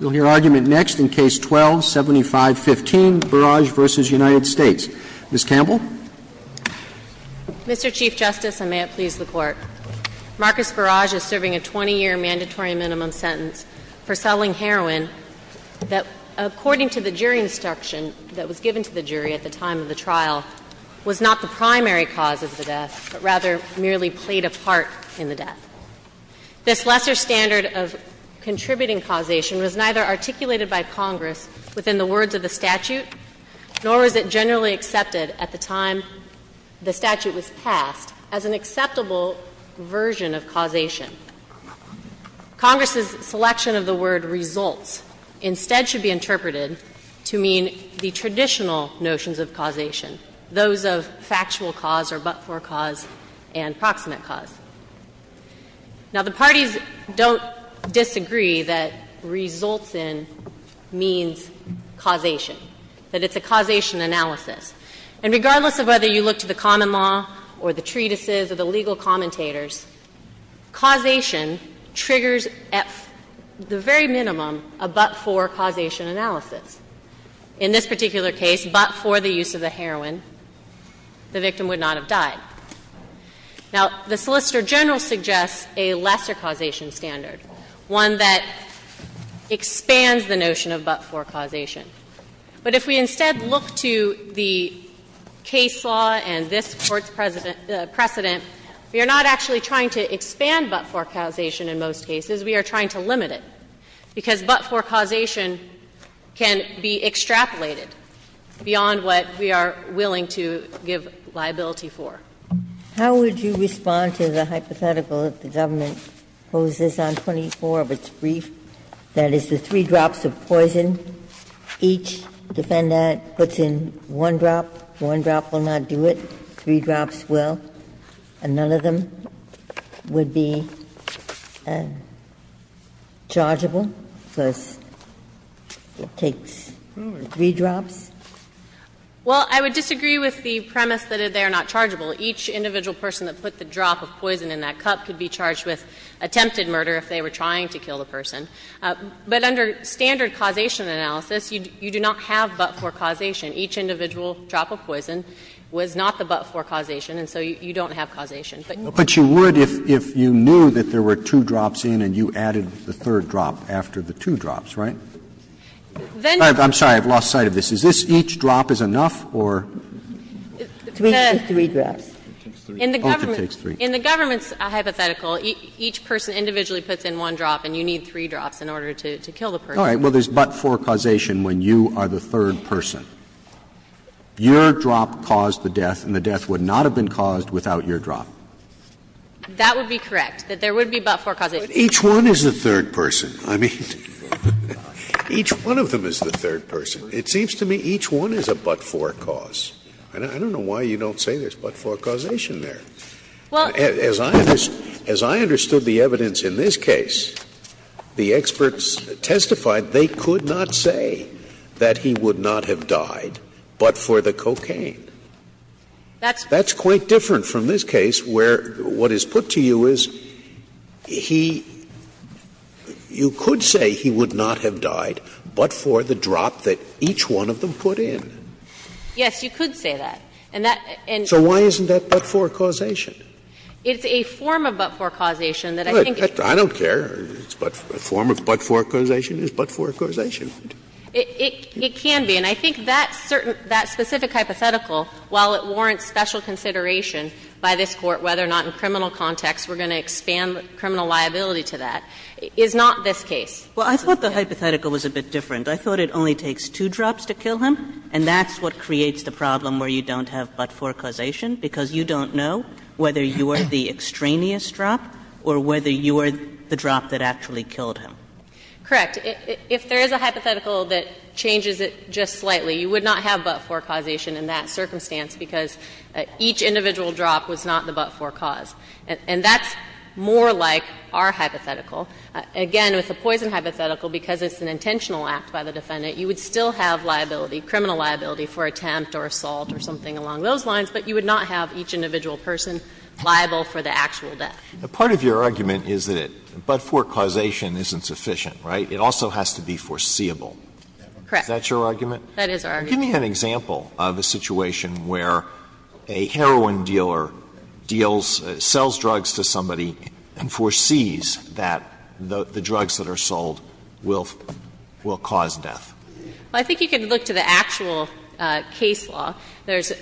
We'll hear argument next in Case 12-7515, Barrage v. United States. Ms. Campbell. Mr. Chief Justice, and may it please the Court, Marcus Barrage is serving a 20-year mandatory minimum sentence for selling heroin that, according to the jury instruction that was given to the jury at the time of the trial, was not the primary cause of the This lesser standard of contributing causation was neither articulated by Congress within the words of the statute, nor was it generally accepted at the time the statute was passed as an acceptable version of causation. Congress's selection of the word results instead should be interpreted to mean the traditional notions of causation, those of factual cause or but-for cause and proximate cause. Now, the parties don't disagree that results in means causation, that it's a causation analysis. And regardless of whether you look to the common law or the treatises or the legal commentators, causation triggers at the very minimum a but-for causation analysis. In this particular case, but for the use of the heroin, the victim would not have died. Now, the Solicitor General suggests a lesser causation standard, one that expands the notion of but-for causation. But if we instead look to the case law and this Court's precedent, we are not actually trying to expand but-for causation in most cases. We are trying to limit it, because but-for causation can be extrapolated beyond what we are willing to give liability for. Ginsburg. How would you respond to the hypothetical that the government poses on 24 of its brief, that is, the three drops of poison, each defendant puts in one drop, one drop will not do it, three drops will, and none of them would be chargeable because it takes three drops? Well, I would disagree with the premise that they are not chargeable. Each individual person that put the drop of poison in that cup could be charged with attempted murder if they were trying to kill the person. But under standard causation analysis, you do not have but-for causation. Each individual drop of poison was not the but-for causation, and so you don't have causation. But you would if you knew that there were two drops in and you added the third drop after the two drops, right? I'm sorry, I've lost sight of this. Is this each drop is enough, or? It takes three drops. In the government's hypothetical, each person individually puts in one drop and you need three drops in order to kill the person. All right. Well, there's but-for causation when you are the third person. Your drop caused the death and the death would not have been caused without your drop. That would be correct, that there would be but-for causation. But each one is the third person. I mean, each one of them is the third person. It seems to me each one is a but-for cause. I don't know why you don't say there's but-for causation there. Well, as I understood the evidence in this case, the experts testified they could not say that he would not have died but for the cocaine. That's quite different from this case where what is put to you is he you could say he would not have died but for the drop that each one of them put in. Yes, you could say that. And that and. So why isn't that but-for causation? It's a form of but-for causation that I think. I don't care. A form of but-for causation is but-for causation. It can be. And I think that specific hypothetical, while it warrants special consideration by this Court whether or not in criminal context we're going to expand criminal liability to that, is not this case. Well, I thought the hypothetical was a bit different. I thought it only takes two drops to kill him. And that's what creates the problem where you don't have but-for causation because you don't know whether you are the extraneous drop or whether you are the drop that actually killed him. Correct. If there is a hypothetical that changes it just slightly, you would not have but-for causation in that circumstance because each individual drop was not the but-for cause. And that's more like our hypothetical. Again, with the poison hypothetical, because it's an intentional act by the defendant, you would still have liability, criminal liability, for attempt or assault or something along those lines, but you would not have each individual person liable for the actual death. Now, part of your argument is that but-for causation isn't sufficient, right? It also has to be foreseeable. Correct. Is that your argument? That is our argument. Give me an example of a situation where a heroin dealer deals or sells drugs to somebody and foresees that the drugs that are sold will cause death. Well, I think you can look to the actual case law. There's,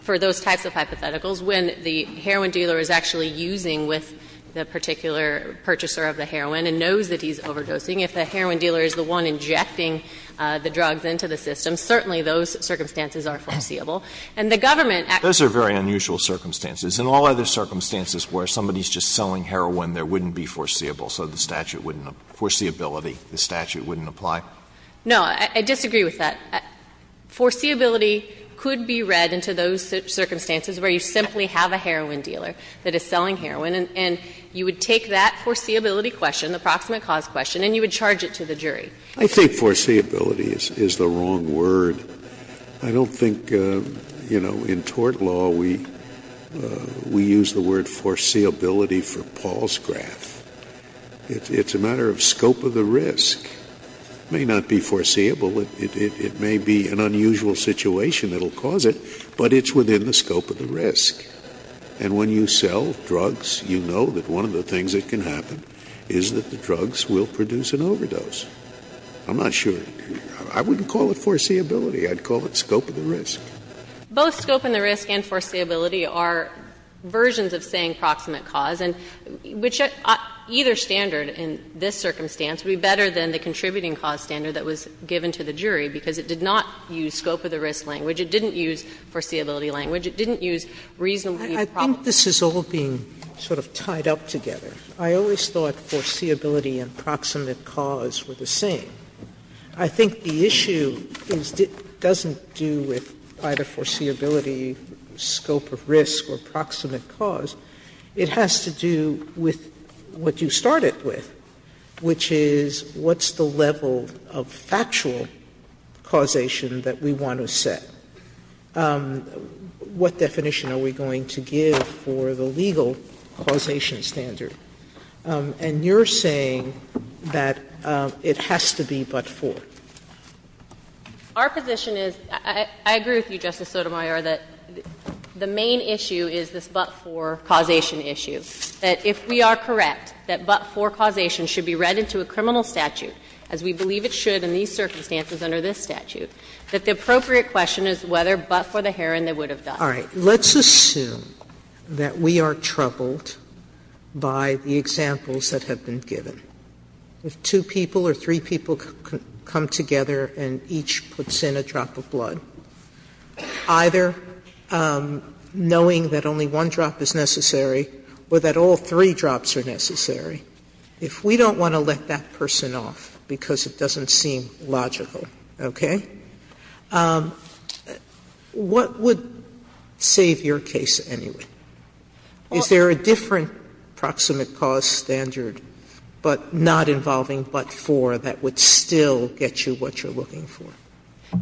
for those types of hypotheticals, when the heroin dealer is actually using with the particular purchaser of the heroin and knows that he's overdosing, if the heroin dealer is the one injecting the drugs into the system, certainly those circumstances are foreseeable. And the government actually- Those are very unusual circumstances. In all other circumstances where somebody is just selling heroin, there wouldn't be foreseeable. So the statute wouldn't be foreseeability. The statute wouldn't apply. No, I disagree with that. Foreseeability could be read into those circumstances where you simply have a heroin dealer that is selling heroin, and you would take that foreseeability question, the proximate cause question, and you would charge it to the jury. I think foreseeability is the wrong word. I don't think, you know, in tort law we use the word foreseeability for Paul's graph. It's a matter of scope of the risk. It may not be foreseeable. It may be an unusual situation that will cause it, but it's within the scope of the risk. And when you sell drugs, you know that one of the things that can happen is that the drugs will produce an overdose. I'm not sure. I wouldn't call it foreseeability. I'd call it scope of the risk. Both scope and the risk and foreseeability are versions of saying proximate cause, and which either standard in this circumstance would be better than the contributing cause standard that was given to the jury, because it did not use scope of the risk language. It didn't use foreseeability language. It didn't use reasonableness of the problem. Sotomayor, I think this is all being sort of tied up together. I always thought foreseeability and proximate cause were the same. I think the issue is it doesn't do with either foreseeability, scope of risk, or proximate cause. It has to do with what you started with, which is what's the level of factual causation that we want to set? What definition are we going to give for the legal causation standard? And you're saying that it has to be but-for. Our position is, I agree with you, Justice Sotomayor, that the main issue is this but-for causation issue. That if we are correct that but-for causation should be read into a criminal statute, as we believe it should in these circumstances under this statute, that the appropriate question is whether but-for the heroin they would have done. Sotomayor, let's assume that we are troubled by the examples that have been given. If two people or three people come together and each puts in a drop of blood, either knowing that only one drop is necessary or that all three drops are necessary, if we don't want to let that person off because it doesn't seem logical, okay? What would save your case anyway? Is there a different proximate cause standard but not involving but-for that would still get you what you're looking for?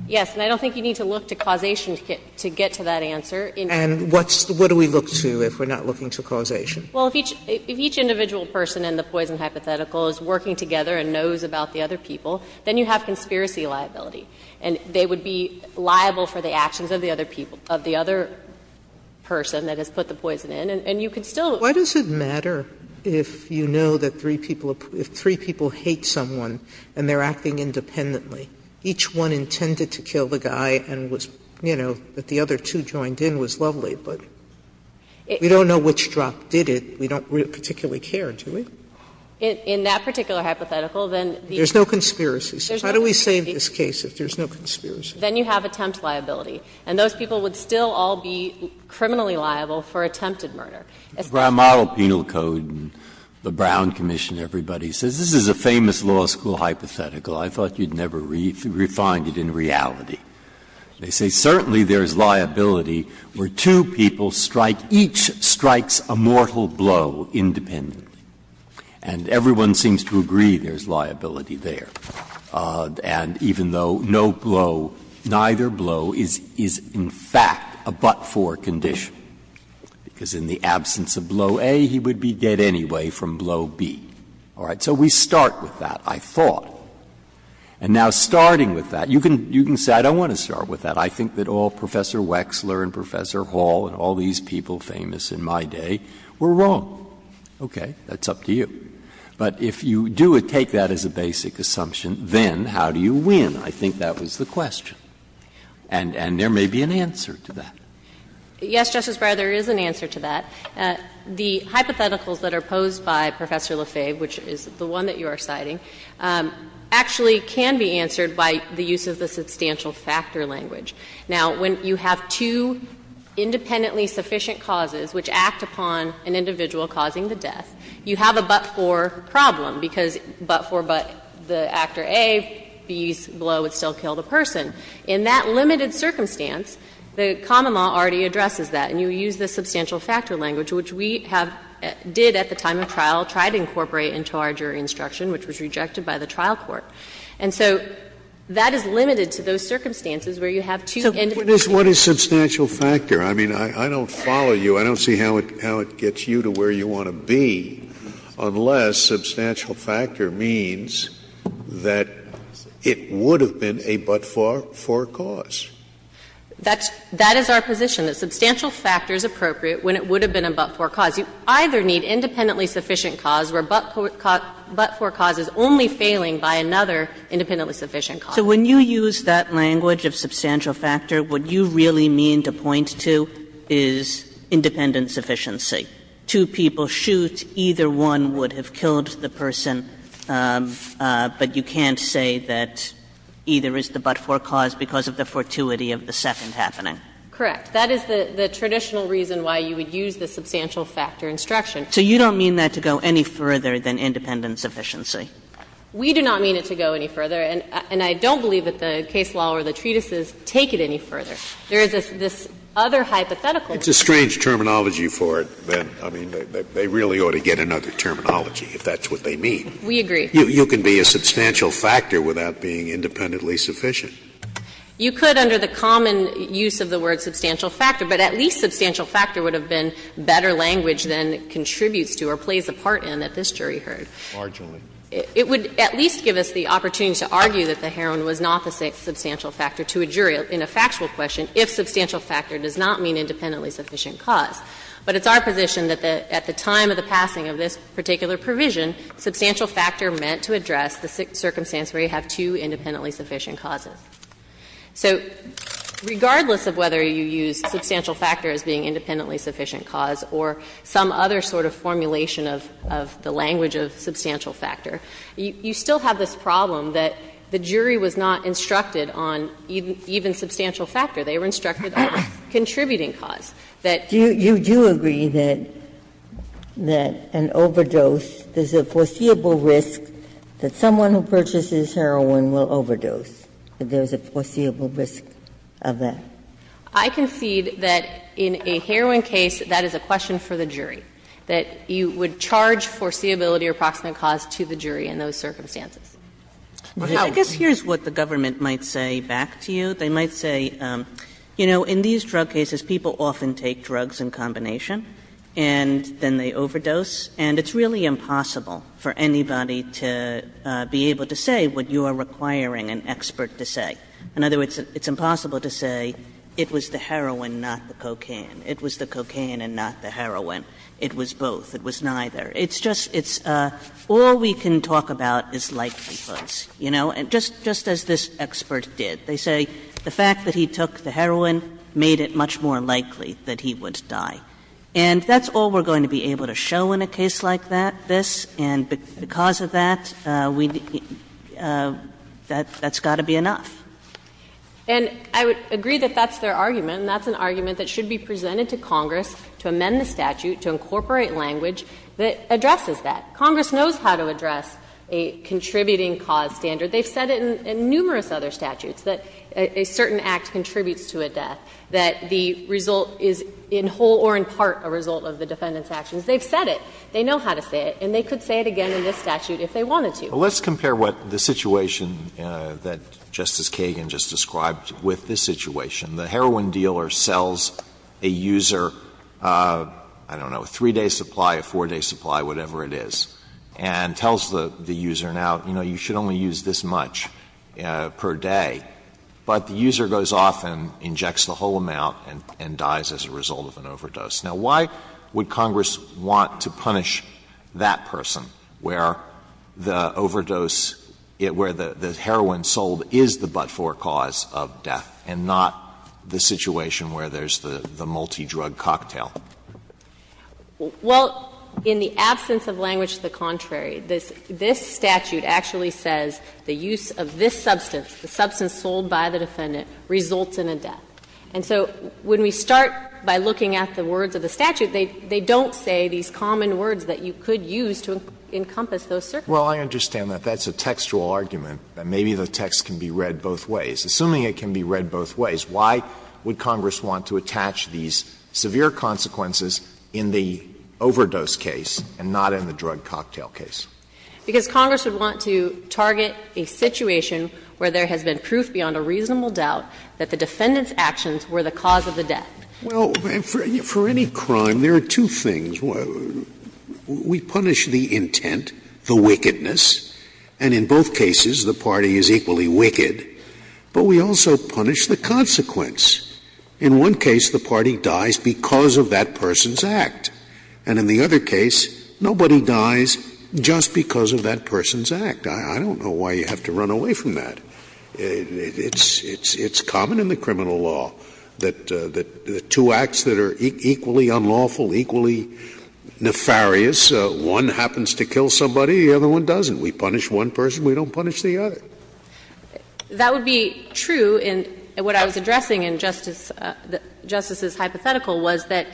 Yes. And I don't think you need to look to causation to get to that answer. And what do we look to if we're not looking to causation? Well, if each individual person in the poison hypothetical is working together and knows about the other people, then you have conspiracy liability. And they would be liable for the actions of the other people, of the other person that has put the poison in. And you could still do that. Sotomayor, why does it matter if you know that three people hate someone and they're acting independently? Each one intended to kill the guy and was, you know, that the other two joined in was lovely. But we don't know which drop did it. We don't particularly care, do we? In that particular hypothetical, then the other two. There's no conspiracy. How do we save this case if there's no conspiracy? Then you have attempt liability. And those people would still all be criminally liable for attempted murder. Breyer, model penal code, the Brown Commission, everybody says this is a famous law school hypothetical. I thought you'd never refined it in reality. They say certainly there is liability where two people strike, each strikes a mortal blow independently. And everyone seems to agree there's liability there. And even though no blow, neither blow is in fact a but-for condition, because in the absence of blow A, he would be dead anyway from blow B. All right. So we start with that, I thought. And now starting with that, you can say I don't want to start with that. I think that all Professor Wexler and Professor Hall and all these people famous in my day were wrong. Okay. That's up to you. But if you do take that as a basic assumption, then how do you win? I think that was the question. And there may be an answer to that. Yes, Justice Breyer, there is an answer to that. The hypotheticals that are posed by Professor LaFave, which is the one that you are citing, actually can be answered by the use of the substantial factor language. Now, when you have two independently sufficient causes which act upon an individual causing the death, you have a but-for problem, because but-for, but the actor A, B's blow would still kill the person. In that limited circumstance, the common law already addresses that. And you use the substantial factor language, which we have did at the time of trial, tried to incorporate into our jury instruction, which was rejected by the trial court. And so that is limited to those circumstances where you have two individuals. Scalia, what is substantial factor? I mean, I don't follow you. I don't see how it gets you to where you want to be, unless substantial factor means that it would have been a but-for cause. That is our position, that substantial factor is appropriate when it would have been a but-for cause. You either need independently sufficient cause where but-for cause is only failing by another independently sufficient cause. So when you use that language of substantial factor, what you really mean to point to is independence efficiency. Two people shoot, either one would have killed the person, but you can't say that either is the but-for cause because of the fortuity of the second happening. Correct. That is the traditional reason why you would use the substantial factor instruction. So you don't mean that to go any further than independence efficiency? We do not mean it to go any further. And I don't believe that the case law or the treatises take it any further. There is this other hypothetical. It's a strange terminology for it. I mean, they really ought to get another terminology, if that's what they mean. We agree. You can be a substantial factor without being independently sufficient. You could under the common use of the word substantial factor, but at least substantial factor would have been better language than contributes to or plays a part in that this jury heard. Largely. It would at least give us the opportunity to argue that the heroin was not the substantial factor to a jury in a factual question if substantial factor does not mean independently sufficient cause. But it's our position that at the time of the passing of this particular provision, substantial factor meant to address the circumstance where you have two independently sufficient causes. So regardless of whether you use substantial factor as being independently sufficient cause or some other sort of formulation of the language of substantial factor, you still have this problem that the jury was not instructed on even substantial factor. They were instructed on contributing cause. That you do agree that an overdose, there's a foreseeable risk that someone who purchases heroin will overdose, that there's a foreseeable risk of that. I concede that in a heroin case, that is a question for the jury, that you would charge foreseeability or proximate cause to the jury in those circumstances. Kagan Well, I guess here's what the government might say back to you. They might say, you know, in these drug cases people often take drugs in combination and then they overdose. And it's really impossible for anybody to be able to say what you are requiring an expert to say. In other words, it's impossible to say it was the heroin, not the cocaine, it was the cocaine and not the heroin. It was both. It was neither. It's just all we can talk about is likelihoods, you know, just as this expert did. They say the fact that he took the heroin made it much more likely that he would die. And that's all we're going to be able to show in a case like this, and because of that, we need to be – that's got to be enough. And I would agree that that's their argument, and that's an argument that should be presented to Congress to amend the statute, to incorporate language that addresses that. Congress knows how to address a contributing cause standard. They've said it in numerous other statutes, that a certain act contributes to a death, that the result is in whole or in part a result of the defendant's actions. They've said it. They know how to say it, and they could say it again in this statute if they wanted to. Alito, let's compare what the situation that Justice Kagan just described with this situation. The heroin dealer sells a user, I don't know, a three-day supply, a four-day supply, whatever it is, and tells the user, now, you know, you should only use this much per day. But the user goes off and injects the whole amount and dies as a result of an overdose. Now, why would Congress want to punish that person where the overdose, where the heroin sold, is the but-for cause of death, and not the situation where there's the multidrug cocktail? Well, in the absence of language to the contrary, this statute actually says the use of this substance, the substance sold by the defendant, results in a death. And so when we start by looking at the words of the statute, they don't say these common words that you could use to encompass those circumstances. Well, I understand that that's a textual argument, that maybe the text can be read both ways. Assuming it can be read both ways, why would Congress want to attach these severe consequences in the overdose case and not in the drug cocktail case? Because Congress would want to target a situation where there has been proof beyond a reasonable doubt that the defendant's actions were the cause of the death. Well, for any crime, there are two things. One, we punish the intent, the wickedness, and in both cases the party is equally wicked, but we also punish the consequence. In one case, the party dies because of that person's act, and in the other case, nobody dies just because of that person's act. I don't know why you have to run away from that. It's common in the criminal law that the two acts that are equally unlawful, equally nefarious, one happens to kill somebody, the other one doesn't. We punish one person, we don't punish the other. That would be true. And what I was addressing in Justice's hypothetical was that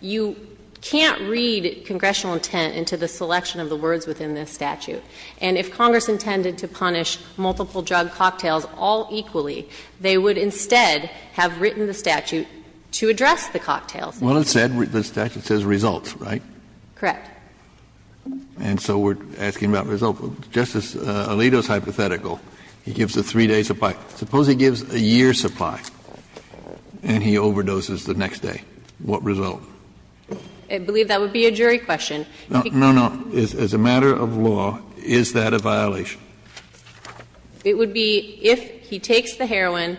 you can't read congressional intent into the selection of the words within this statute. And if Congress intended to punish multiple drug cocktails all equally, they would instead have written the statute to address the cocktails. Well, it said, the statute says results, right? Correct. And so we're asking about results. Justice Alito's hypothetical, he gives a 3-day supply. Suppose he gives a year's supply and he overdoses the next day. What result? I believe that would be a jury question. No, no. As a matter of law, is that a violation? It would be if he takes the heroin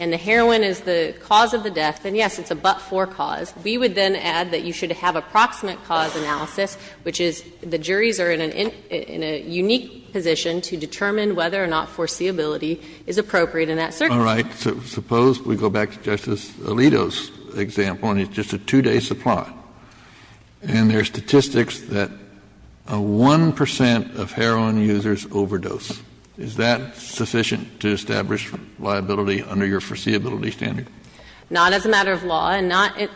and the heroin is the cause of the death, then, yes, it's a but-for cause. We would then add that you should have approximate cause analysis, which is the juries are in a unique position to determine whether or not foreseeability is appropriate in that circumstance. All right. Suppose we go back to Justice Alito's example, and it's just a 2-day supply. And there's statistics that a 1 percent of heroin users overdose. Is that sufficient to establish liability under your foreseeability standard? Not as a matter of law, and not to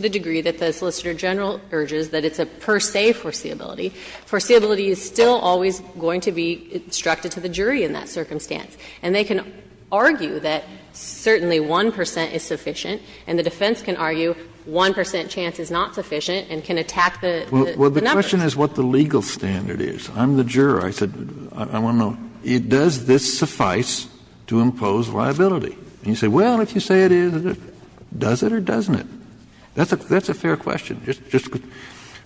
the degree that the Solicitor General urges that it's a per se foreseeability. Foreseeability is still always going to be instructed to the jury in that circumstance. And they can argue that certainly 1 percent is sufficient, and the defense can argue 1 percent chance is not sufficient and can attack the number. Well, the question is what the legal standard is. I'm the juror. I said I want to know, does this suffice to impose liability? And you say, well, if you say it is, does it or doesn't it? That's a fair question.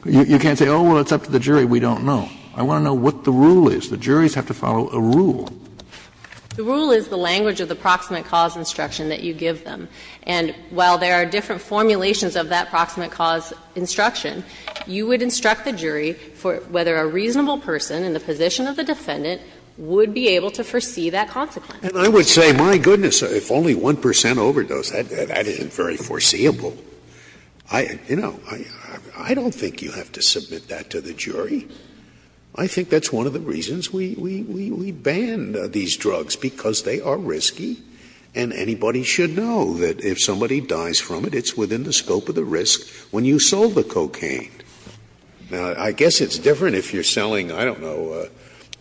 You can't say, oh, well, it's up to the jury. We don't know. I want to know what the rule is. The juries have to follow a rule. The rule is the language of the approximate cause instruction that you give them. And while there are different formulations of that approximate cause instruction, you would instruct the jury for whether a reasonable person in the position of the defendant would be able to foresee that consequence. And I would say, my goodness, if only 1 percent overdose, that isn't very foreseeable. I, you know, I don't think you have to submit that to the jury. I think that's one of the reasons we ban these drugs, because they are risky and anybody should know that if somebody dies from it, it's within the scope of the risk when you sell the cocaine. Now, I guess it's different if you're selling, I don't know,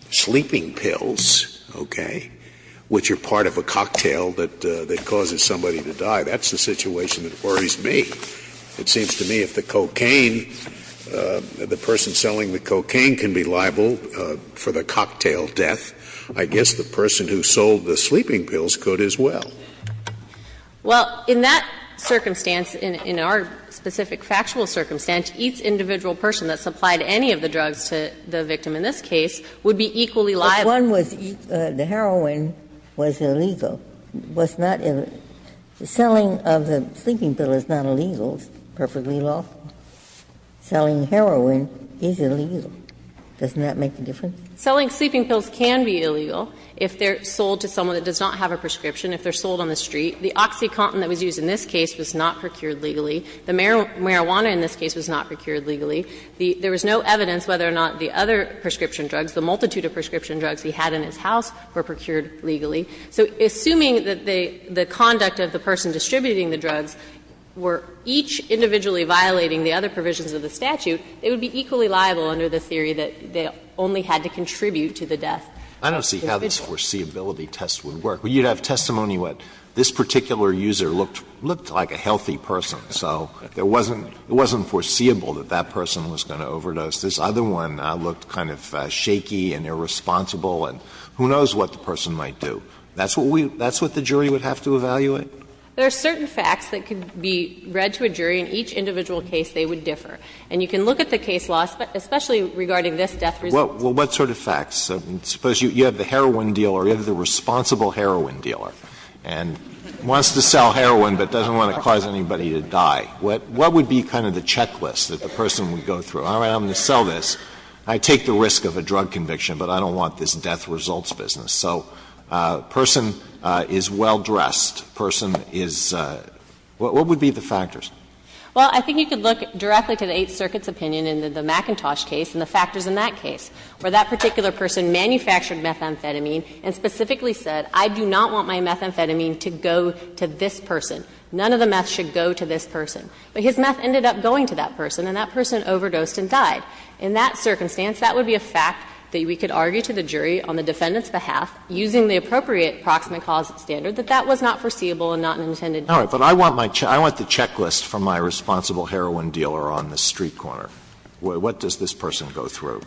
sleeping pills, okay, which are part of a cocktail that causes somebody to die. That's the situation that worries me. It seems to me if the cocaine, the person selling the cocaine can be liable for the cocktail death, I guess the person who sold the sleeping pills could as well. Well, in that circumstance, in our specific factual circumstance, each individual person that supplied any of the drugs to the victim in this case would be equally liable. But if one was, the heroin was illegal, was not, selling of the sleeping pill is not illegal, it's perfectly lawful. Selling heroin is illegal. Doesn't that make a difference? Selling sleeping pills can be illegal if they're sold to someone that does not have a prescription, if they're sold on the street. The OxyContin that was used in this case was not procured legally. The marijuana in this case was not procured legally. There was no evidence whether or not the other prescription drugs, the multitude of prescription drugs he had in his house, were procured legally. So assuming that the conduct of the person distributing the drugs were each individually violating the other provisions of the statute, it would be equally liable under the theory that they only had to contribute to the death of the individual. Alitoson I don't see how this foreseeability test would work. You'd have testimony what this particular user looked like a healthy person, so there wasn't foreseeable that that person was going to overdose. This other one looked kind of shaky and irresponsible, and who knows what the person might do. That's what we – that's what the jury would have to evaluate? There are certain facts that could be read to a jury. In each individual case, they would differ. And you can look at the case law, especially regarding this death result. Well, what sort of facts? Suppose you have the heroin dealer or you have the responsible heroin dealer and wants to sell heroin but doesn't want to cause anybody to die. What would be kind of the checklist that the person would go through? All right, I'm going to sell this. I take the risk of a drug conviction, but I don't want this death results business. So a person is well-dressed. A person is – what would be the factors? Well, I think you could look directly to the Eighth Circuit's opinion in the McIntosh case and the factors in that case, where that particular person manufactured methamphetamine and specifically said, I do not want my methamphetamine to go to this person. None of the meth should go to this person. But his meth ended up going to that person, and that person overdosed and died. In that circumstance, that would be a fact that we could argue to the jury on the defendant's behalf, using the appropriate proximate cause standard, that that was not foreseeable and not an intended death. All right. But I want my – I want the checklist from my responsible heroin dealer on the street corner. What does this person go through?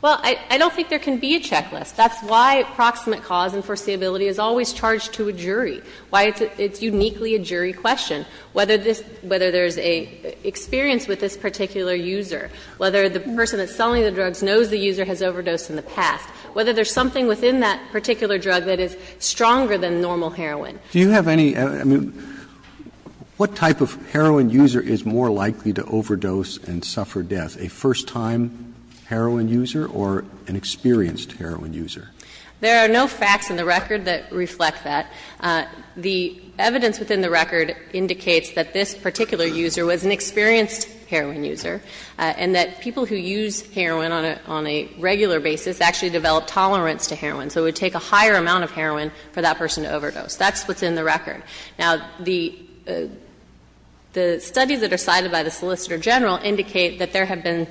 Well, I don't think there can be a checklist. That's why proximate cause and foreseeability is always charged to a jury, why it's uniquely a jury question. Whether this – whether there's an experience with this particular user, whether the person that's selling the drugs knows the user has overdosed in the past, whether there's something within that particular drug that is stronger than normal heroin. Do you have any – I mean, what type of heroin user is more likely to overdose and suffer death, a first-time heroin user or an experienced heroin user? There are no facts in the record that reflect that. The evidence within the record indicates that this particular user was an experienced heroin user and that people who use heroin on a regular basis actually develop tolerance to heroin. So it would take a higher amount of heroin for that person to overdose. That's what's in the record. Now, the studies that are cited by the Solicitor General indicate that there have been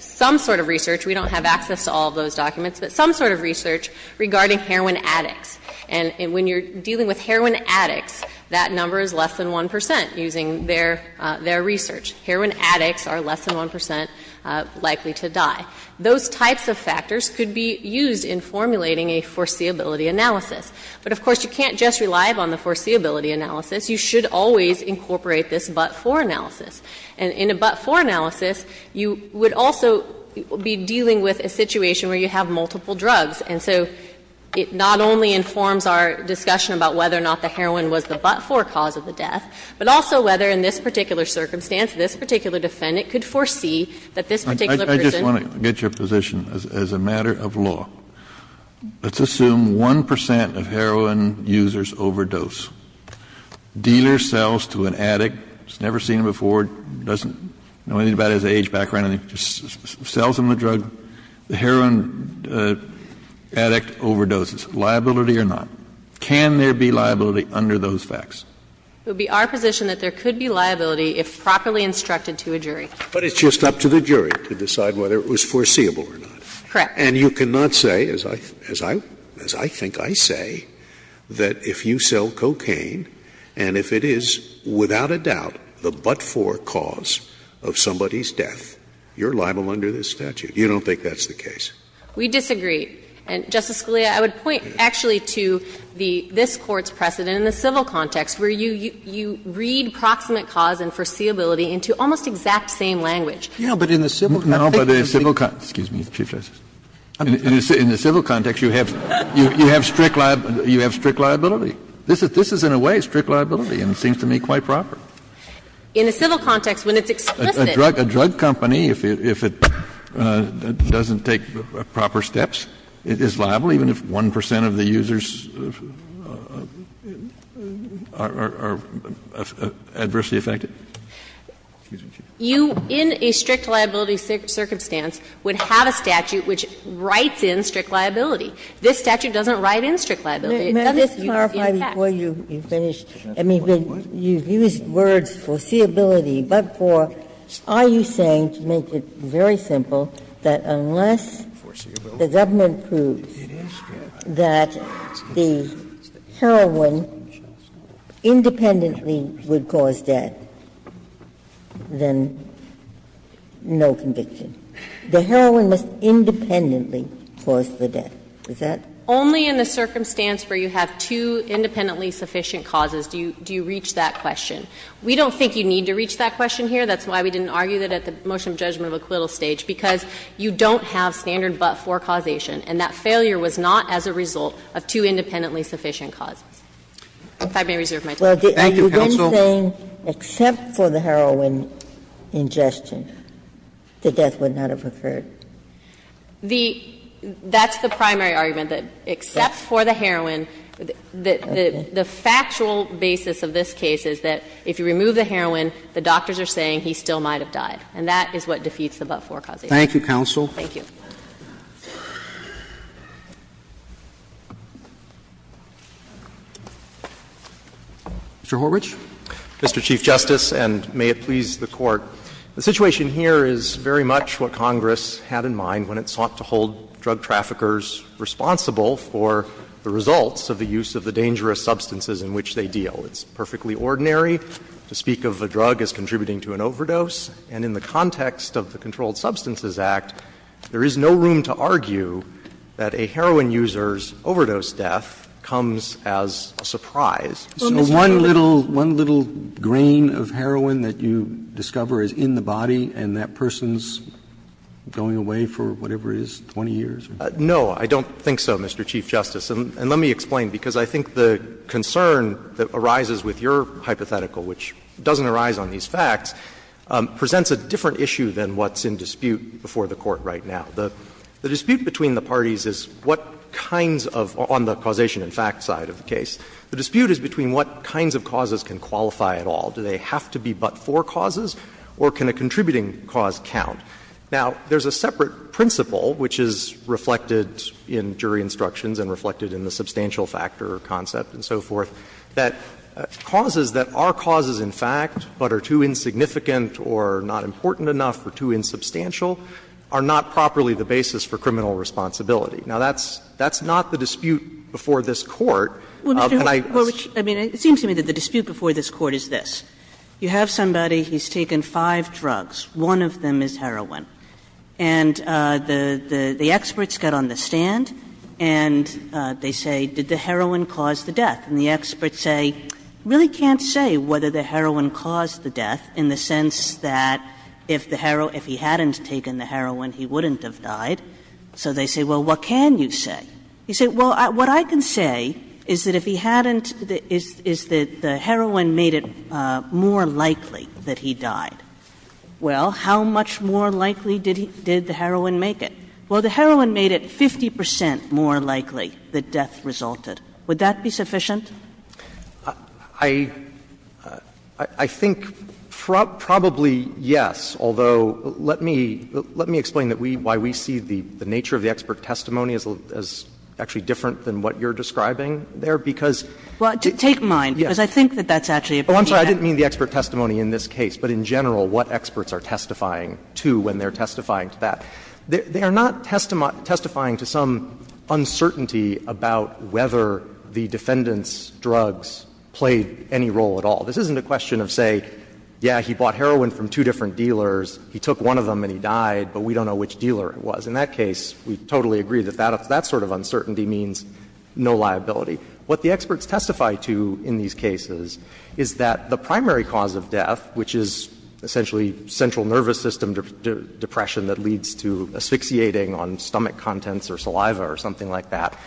some sort of research. We don't have access to all of those documents, but some sort of research regarding heroin addicts. And when you're dealing with heroin addicts, that number is less than 1 percent using their – their research. Heroin addicts are less than 1 percent likely to die. Those types of factors could be used in formulating a foreseeability analysis. But, of course, you can't just rely on the foreseeability analysis. You should always incorporate this but-for analysis. And in a but-for analysis, you would also be dealing with a situation where you have multiple drugs. And so it not only informs our discussion about whether or not the heroin was the but-for cause of the death, but also whether in this particular circumstance this particular defendant could foresee that this particular person. Kennedy, I just want to get your position, as a matter of law. Let's assume 1 percent of heroin users overdose. Dealer sells to an addict, has never seen him before, doesn't know anything about his age background, and he just sells him the drug. The heroin addict overdoses, liability or not. Can there be liability under those facts? It would be our position that there could be liability if properly instructed to a jury. But it's just up to the jury to decide whether it was foreseeable or not. Correct. And you cannot say, as I – as I think I say, that if you sell cocaine and if it is without a doubt the but-for cause of somebody's death, you're liable under this statute. You don't think that's the case? We disagree. And, Justice Scalia, I would point actually to the – this Court's precedent in the civil context, where you read proximate cause and foreseeability into almost exact same language. No, but in the civil context, you have strict liability. This is, in a way, strict liability and seems to me quite proper. In the civil context, when it's explicit. A drug company, if it doesn't take proper steps, is liable even if 1 percent of the users are adversely affected? You, in a strict liability circumstance, would have a statute which writes in strict liability. This statute doesn't write in strict liability. It doesn't use the facts. Ginsburg, before you finish, I mean, you've used words, foreseeability, but for – are you saying, to make it very simple, that unless the government proves that the heroin independently would cause death, then no conviction? The heroin must independently cause the death. Is that? Only in the circumstance where you have two independently sufficient causes do you reach that question. We don't think you need to reach that question here. That's why we didn't argue that at the motion of judgment of acquittal stage, because you don't have standard but-for causation, and that failure was not as a result of two independently sufficient causes. If I may reserve my time. Thank you, counsel. Ginsburg, you've been saying except for the heroin ingestion, the death would not have occurred. The – that's the primary argument, that except for the heroin, the factual basis of this case is that if you remove the heroin, the doctors are saying he still might have died. And that is what defeats the but-for causation. Thank you, counsel. Thank you. Mr. Horwich. Mr. Chief Justice, and may it please the Court. The situation here is very much what Congress had in mind when it sought to hold drug traffickers responsible for the results of the use of the dangerous substances in which they deal. It's perfectly ordinary to speak of a drug as contributing to an overdose, and in the context of the Controlled Substances Act, there is no room to argue that a heroin user's overdose death comes as a surprise. So one little – one little grain of heroin that you discover is in the body and that person's going away for whatever it is, 20 years? No, I don't think so, Mr. Chief Justice. And let me explain, because I think the concern that arises with your hypothetical, which doesn't arise on these facts, presents a different issue than what's in dispute before the Court right now. The dispute between the parties is what kinds of – on the causation and fact side of the case. The dispute is between what kinds of causes can qualify at all. Do they have to be but-for causes, or can a contributing cause count? Now, there's a separate principle, which is reflected in jury instructions and reflected in the substantial factor concept and so forth, that causes that are causes in fact, but are too insignificant or not important enough or too insubstantial, are not properly the basis for criminal responsibility. Now, that's – that's not the dispute before this Court. Can I just – Kagan. Well, Mr. Horwich, I mean, it seems to me that the dispute before this Court is this. You have somebody, he's taken five drugs, one of them is heroin. And the – the experts get on the stand and they say, did the heroin cause the death? And the experts say, we really can't say whether the heroin caused the death in the sense that if the heroin – if he hadn't taken the heroin, he wouldn't have died. So they say, well, what can you say? You say, well, what I can say is that if he hadn't – is that the heroin made it more likely that he died. Well, how much more likely did he – did the heroin make it? Well, the heroin made it 50 percent more likely that death resulted. Would that be sufficient? I – I think probably yes, although let me – let me explain that we – why we see the nature of the expert testimony as actually different than what you're describing there, because it's – Well, take mine, because I think that that's actually a pretty accurate – Oh, I'm sorry. I didn't mean the expert testimony in this case, but in general, what experts are testifying to when they're testifying to that. They are not testifying to some uncertainty about whether the defendant's drugs played any role at all. This isn't a question of, say, yeah, he bought heroin from two different dealers, he took one of them and he died, but we don't know which dealer it was. In that case, we totally agree that that sort of uncertainty means no liability. What the experts testify to in these cases is that the primary cause of death, which is essentially central nervous system depression that leads to asphyxiating on stomach contents or saliva or something like that,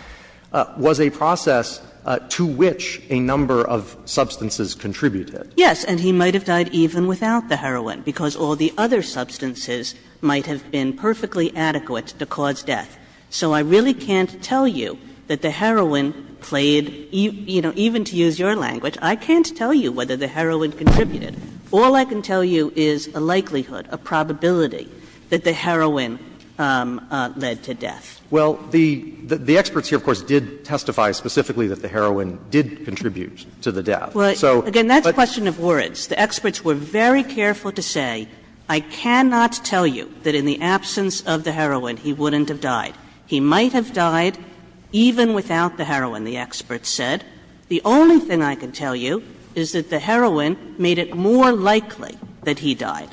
was a process to which a number of substances contributed. Yes. And he might have died even without the heroin, because all the other substances might have been perfectly adequate to cause death. So I really can't tell you that the heroin played, you know, even to use your language, I can't tell you whether the heroin contributed. All I can tell you is a likelihood, a probability that the heroin led to death. Well, the experts here, of course, did testify specifically that the heroin did contribute to the death. So, but the experts were very careful to say, I cannot tell you whether the heroin contributed to the death. I can tell you that in the absence of the heroin, he wouldn't have died. He might have died even without the heroin, the experts said. The only thing I can tell you is that the heroin made it more likely that he died.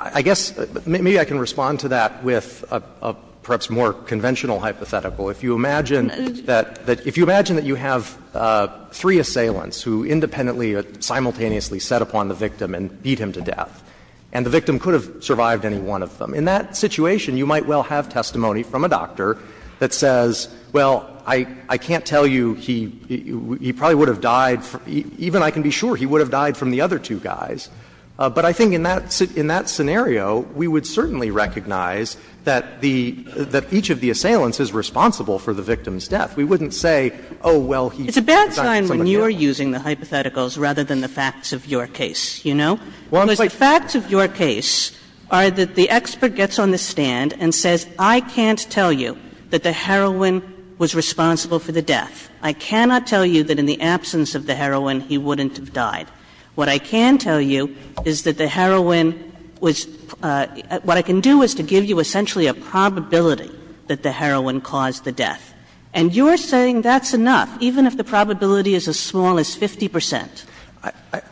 I guess maybe I can respond to that with a perhaps more conventional hypothetical. If you imagine that you have three assailants who independently or simultaneously set upon the victim and beat him to death, and the victim could have survived any one of them, in that situation, you might well have testimony from a doctor that says, well, I can't tell you, he probably would have died, even I can be sure he would have died from the other two guys. But I think in that scenario, we would certainly recognize that the — that each of the assailants is responsible for the victim's death. We wouldn't say, oh, well, he assigned it to somebody else. We would say, well, you know, we're just using the hypotheticals rather than the facts of your case, you know. Because the facts of your case are that the expert gets on the stand and says, I can't tell you that the heroin was responsible for the death. I cannot tell you that in the absence of the heroin, he wouldn't have died. What I can tell you is that the heroin was — what I can do is to give you, essentially, a probability that the heroin caused the death. And you're saying that's enough, even if the probability is as small as 50 percent.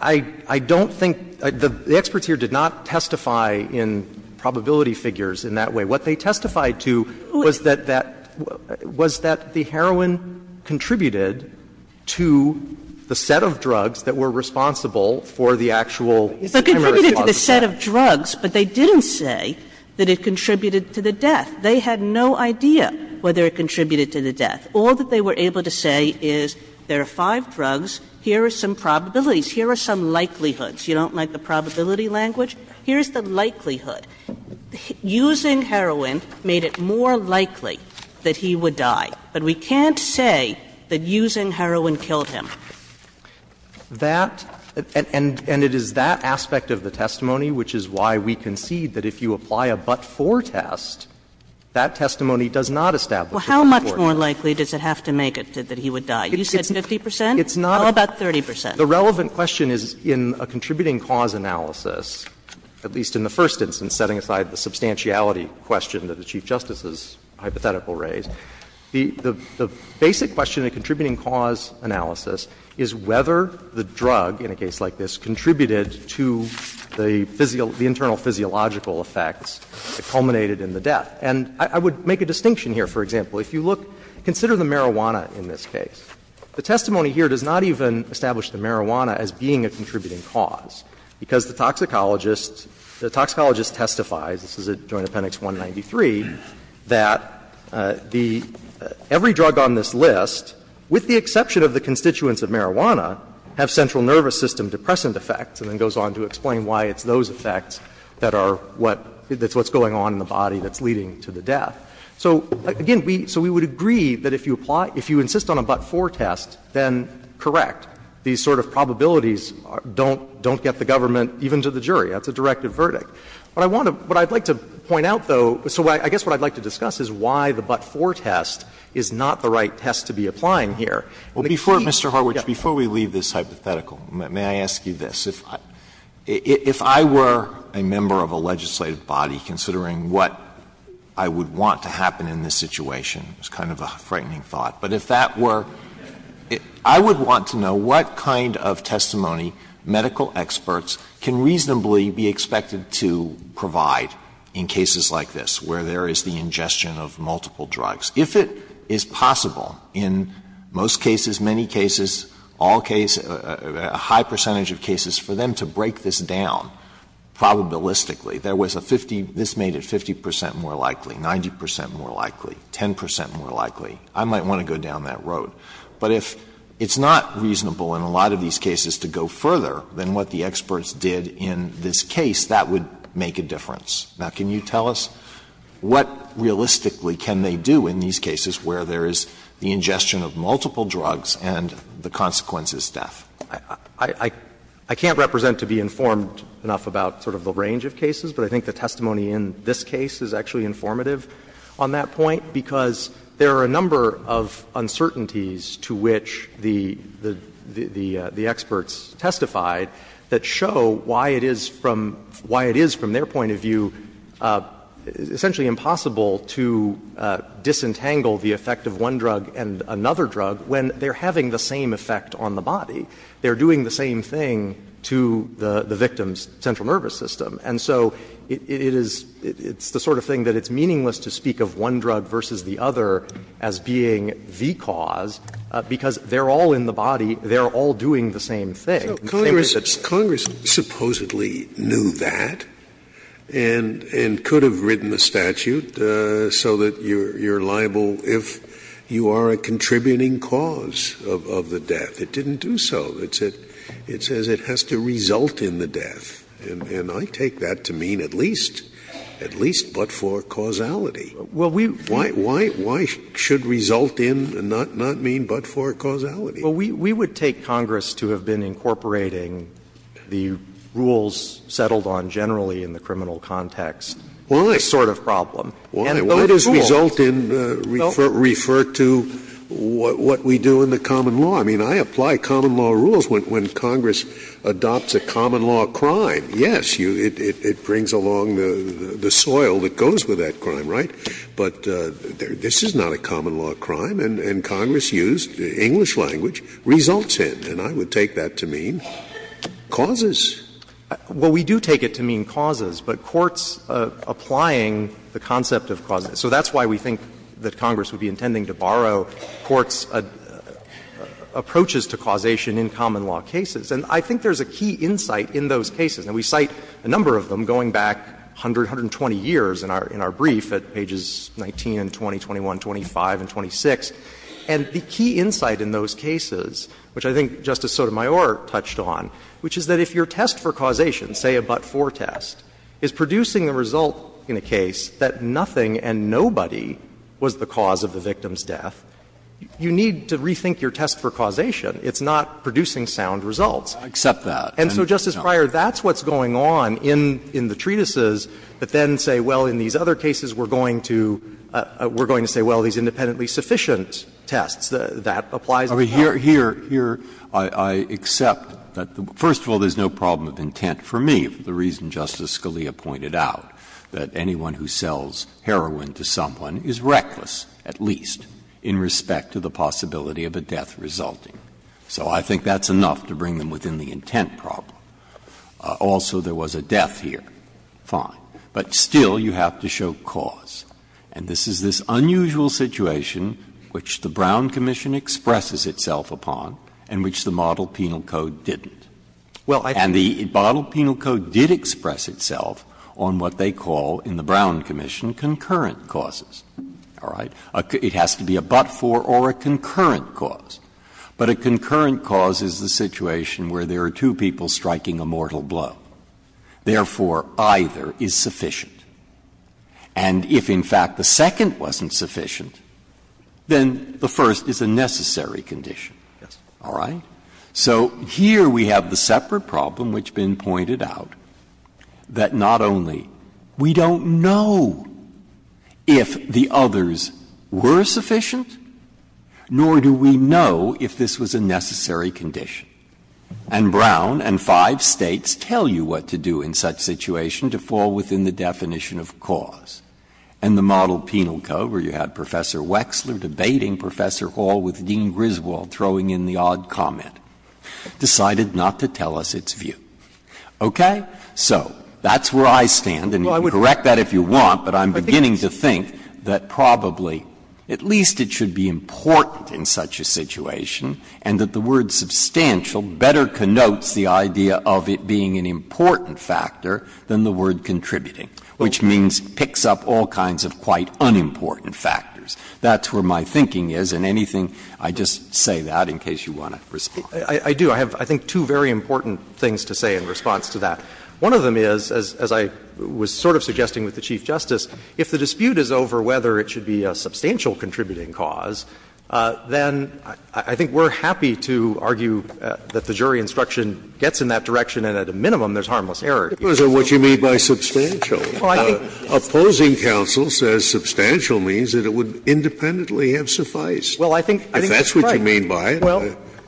I don't think — the experts here did not testify in probability figures in that way. What they testified to was that that — was that the heroin contributed to the set of drugs that were responsible for the actual hemorrhagic cause of death. It contributed to the set of drugs, but they didn't say that it contributed to the death. They had no idea whether it contributed to the death. All that they were able to say is there are five drugs, here are some probabilities, here are some likelihoods. You don't like the probability language? Here's the likelihood. Using heroin made it more likely that he would die. But we can't say that using heroin killed him. That — and it is that aspect of the testimony which is why we concede that if you apply a but-for test, that testimony does not establish a but-for test. Kagan Well, how much more likely does it have to make it that he would die? You said 50 percent? It's not a— Oh, about 30 percent. The relevant question is in a contributing cause analysis, at least in the first instance, setting aside the substantiality question that the Chief Justice's hypothetical raised, the basic question in a contributing cause analysis is whether the drug, in a case like this, contributed to the physical — the internal physiological effects that culminated in the death. And I would make a distinction here. For example, if you look — consider the marijuana in this case. The testimony here does not even establish the marijuana as being a contributing cause, because the toxicologist — the toxicologist testifies, this is at Joint Appendix 193, that the — every drug on this list, with the exception of the constituents of marijuana, have central nervous system depressant effects, and then goes on to explain why it's those effects that are what — that's what's going on in the body that's leading to the death. So, again, we — so we would agree that if you apply — if you insist on a but-for test, then correct. These sort of probabilities don't — don't get the government, even to the jury. That's a directive verdict. What I want to — what I'd like to point out, though — so I guess what I'd like to discuss is why the but-for test is not the right test to be applying here. And the key— If I were a member of a legislative body, considering what I would want to happen in this situation, it's kind of a frightening thought, but if that were — I would want to know what kind of testimony medical experts can reasonably be expected to provide in cases like this, where there is the ingestion of multiple drugs. If it is possible in most cases, many cases, all cases, a high percentage of cases for them to break this down probabilistically. There was a 50 — this made it 50 percent more likely, 90 percent more likely, 10 percent more likely. I might want to go down that road. But if it's not reasonable in a lot of these cases to go further than what the experts did in this case, that would make a difference. Now, can you tell us what realistically can they do in these cases where there is the ingestion of multiple drugs and the consequence is death? I can't represent to be informed enough about sort of the range of cases, but I think the testimony in this case is actually informative on that point, because there are a number of uncertainties to which the experts testified that show why it is from — why it is, from their point of view, essentially impossible to disentangle the effect of one drug and another drug when they are having the same effect on the victim. They are doing the same thing to the victim's central nervous system. And so it is — it's the sort of thing that it's meaningless to speak of one drug versus the other as being the cause, because they are all in the body, they are all doing the same thing. Scalia. Congress supposedly knew that and could have written a statute so that you are liable if you are a contributing cause of the death. It didn't do so. It says it has to result in the death. And I take that to mean at least, at least but for causality. Why should result in and not mean but for causality? Well, we would take Congress to have been incorporating the rules settled on generally in the criminal context. Why? This sort of problem. And though it is ruled. Why does result in refer to what we do in the common law? I mean, I apply common law rules when Congress adopts a common law crime. Yes, it brings along the soil that goes with that crime, right? But this is not a common law crime. And Congress used the English language, results in. And I would take that to mean causes. Well, we do take it to mean causes, but courts applying the concept of causes. So that's why we think that Congress would be intending to borrow courts' approaches to causation in common law cases. And I think there is a key insight in those cases. And we cite a number of them going back 100, 120 years in our brief at pages 19 and 20, 21, 25, and 26. And the key insight in those cases, which I think Justice Sotomayor touched on, which is that if your test for causation, say a but-for test, is producing a result in a case that nothing and nobody was the cause of the victim's death, you need to rethink your test for causation. It's not producing sound results. I accept that. And so, Justice Breyer, that's what's going on in the treatises that then say, well, in these other cases we're going to say, well, these independently sufficient tests. That applies in common law. Here, I accept that the — first of all, there's no problem of intent for me, the reason Justice Scalia pointed out, that anyone who sells heroin to someone is reckless, at least, in respect to the possibility of a death resulting. So I think that's enough to bring them within the intent problem. Also, there was a death here. Fine. But still, you have to show cause. And this is this unusual situation which the Brown Commission expresses itself upon and which the model penal code didn't. And the model penal code did express itself on what they call in the Brown Commission concurrent causes. All right? It has to be a but-for or a concurrent cause. But a concurrent cause is the situation where there are two people striking a mortal Therefore, either is sufficient. And if, in fact, the second wasn't sufficient, then the first is a necessary condition. All right? So here we have the separate problem which has been pointed out, that not only we don't know if the others were sufficient, nor do we know if this was a necessary condition. And Brown and five States tell you what to do in such a situation to fall within the definition of cause. And the model penal code, where you had Professor Wexler debating Professor Hall with Dean Griswold throwing in the odd comment, decided not to tell us its view. Okay? So that's where I stand. And you can correct that if you want, but I'm beginning to think that probably at least it should be important in such a situation and that the word substantial better connotes the idea of it being an important factor than the word contributing, which means it picks up all kinds of quite unimportant factors. That's where my thinking is. And anything, I just say that in case you want to respond. I do. I have, I think, two very important things to say in response to that. One of them is, as I was sort of suggesting with the Chief Justice, if the dispute is over whether it should be a substantial contributing cause, then I think we're happy to argue that the jury instruction gets in that direction and at a minimum there's harmless error. Because of what you mean by substantial. Well, I think. Opposing counsel says substantial means that it would independently have sufficed. Well, I think that's right. If that's what you mean by it,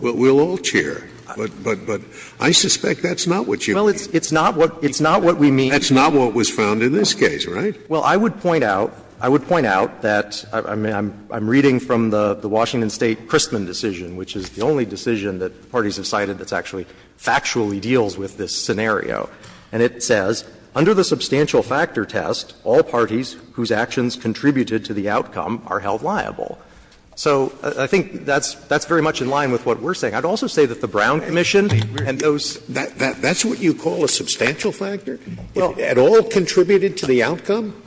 we'll all cheer. But I suspect that's not what you mean. Well, it's not what we mean. That's not what was found in this case, right? Well, I would point out, I would point out that I'm reading from the Washington State Christman decision, which is the only decision that parties have cited that's actually factually deals with this scenario. And it says, Under the substantial factor test, all parties whose actions contributed to the outcome are held liable. So I think that's very much in line with what we're saying. I'd also say that the Brown Commission and those. That's what you call a substantial factor? It all contributed to the outcome?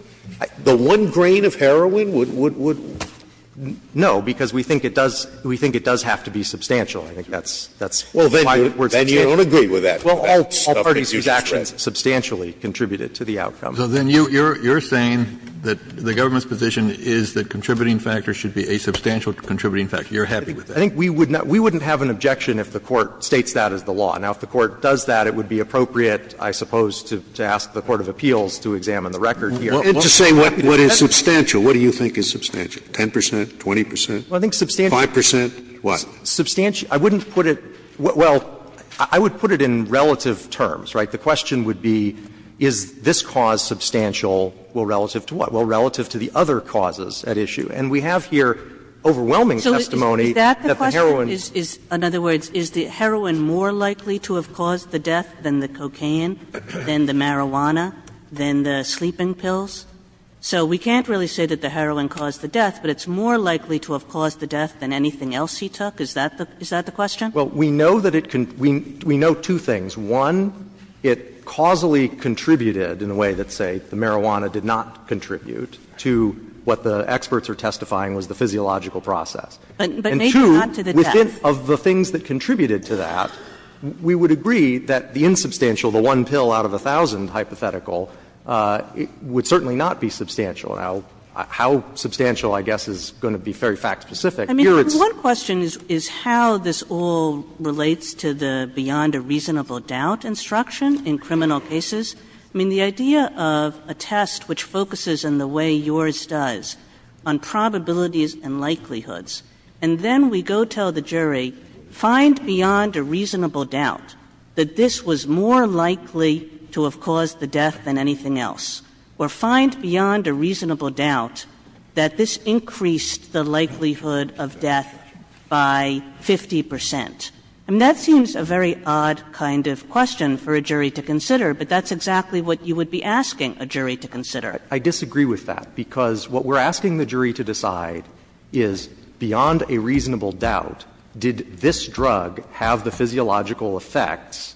The one grain of heroin would, would, would. No, because we think it does, we think it does have to be substantial. I think that's, that's my words of judgment. I don't agree with that. Well, all parties whose actions substantially contributed to the outcome. So then you're, you're saying that the government's position is that contributing factors should be a substantial contributing factor. You're happy with that? I think we would not, we wouldn't have an objection if the Court states that as the law. Now, if the Court does that, it would be appropriate, I suppose, to ask the court of appeals to examine the record here. And to say what is substantial, what do you think is substantial, 10 percent, 20 percent? Well, I think substantial. 5 percent, what? Substantial, I wouldn't put it. Well, I would put it in relative terms, right? The question would be is this cause substantial, well, relative to what? Well, relative to the other causes at issue. And we have here overwhelming testimony that the heroin. So is that the question? In other words, is the heroin more likely to have caused the death than the cocaine, than the marijuana, than the sleeping pills? So we can't really say that the heroin caused the death, but it's more likely to have caused the death than anything else he took? Is that the, is that the question? Well, we know that it can, we know two things. One, it causally contributed in a way that, say, the marijuana did not contribute to what the experts are testifying was the physiological process. And two, within of the things that contributed to that, we would agree that the insubstantial, the one pill out of a thousand hypothetical, would certainly not be substantial. Now, how substantial, I guess, is going to be very fact specific. Here, it's. I mean, one question is how this all relates to the beyond a reasonable doubt instruction in criminal cases. I mean, the idea of a test which focuses in the way yours does on probabilities and likelihoods, and then we go tell the jury, find beyond a reasonable doubt that this was more likely to have caused the death than anything else, or find beyond a reasonable doubt that this increased the likelihood of death by 50 percent. I mean, that seems a very odd kind of question for a jury to consider, but that's exactly what you would be asking a jury to consider. I disagree with that, because what we're asking the jury to decide is, beyond a reasonable doubt, did this drug have the physiological effects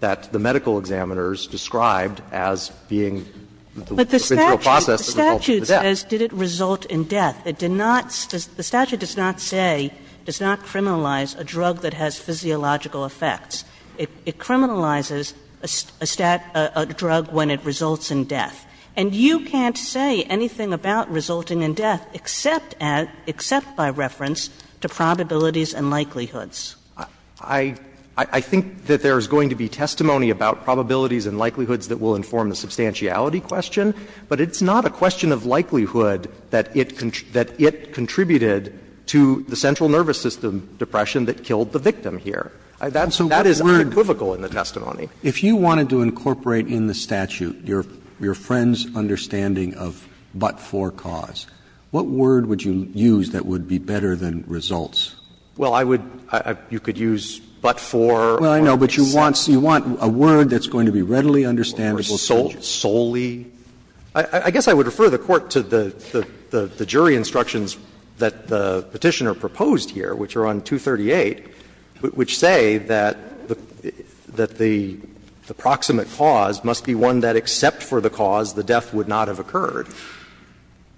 that the medical examiners described as being the procedural process that resulted in the death. Kagan But the statute says did it result in death. It did not say the statute does not say, does not criminalize a drug that has physiological effects. It criminalizes a drug when it results in death. And you can't say anything about resulting in death except by reference to probabilities and likelihoods. I think that there is going to be testimony about probabilities and likelihoods that will inform the substantiality question, but it's not a question of likelihood that it contributed to the central nervous system depression that killed the victim here. That is unequivocal in the testimony. Roberts If you wanted to incorporate in the statute your friend's understanding of but-for cause, what word would you use that would be better than results? Well, I would you could use but-for. Roberts Well, I know, but you want a word that's going to be readily understandable to the judge. Kagan Or solely. I guess I would refer the Court to the jury instructions that the Petitioner proposed here, which are on 238, which say that the proximate cause must be one that except for the cause, the death would not have occurred.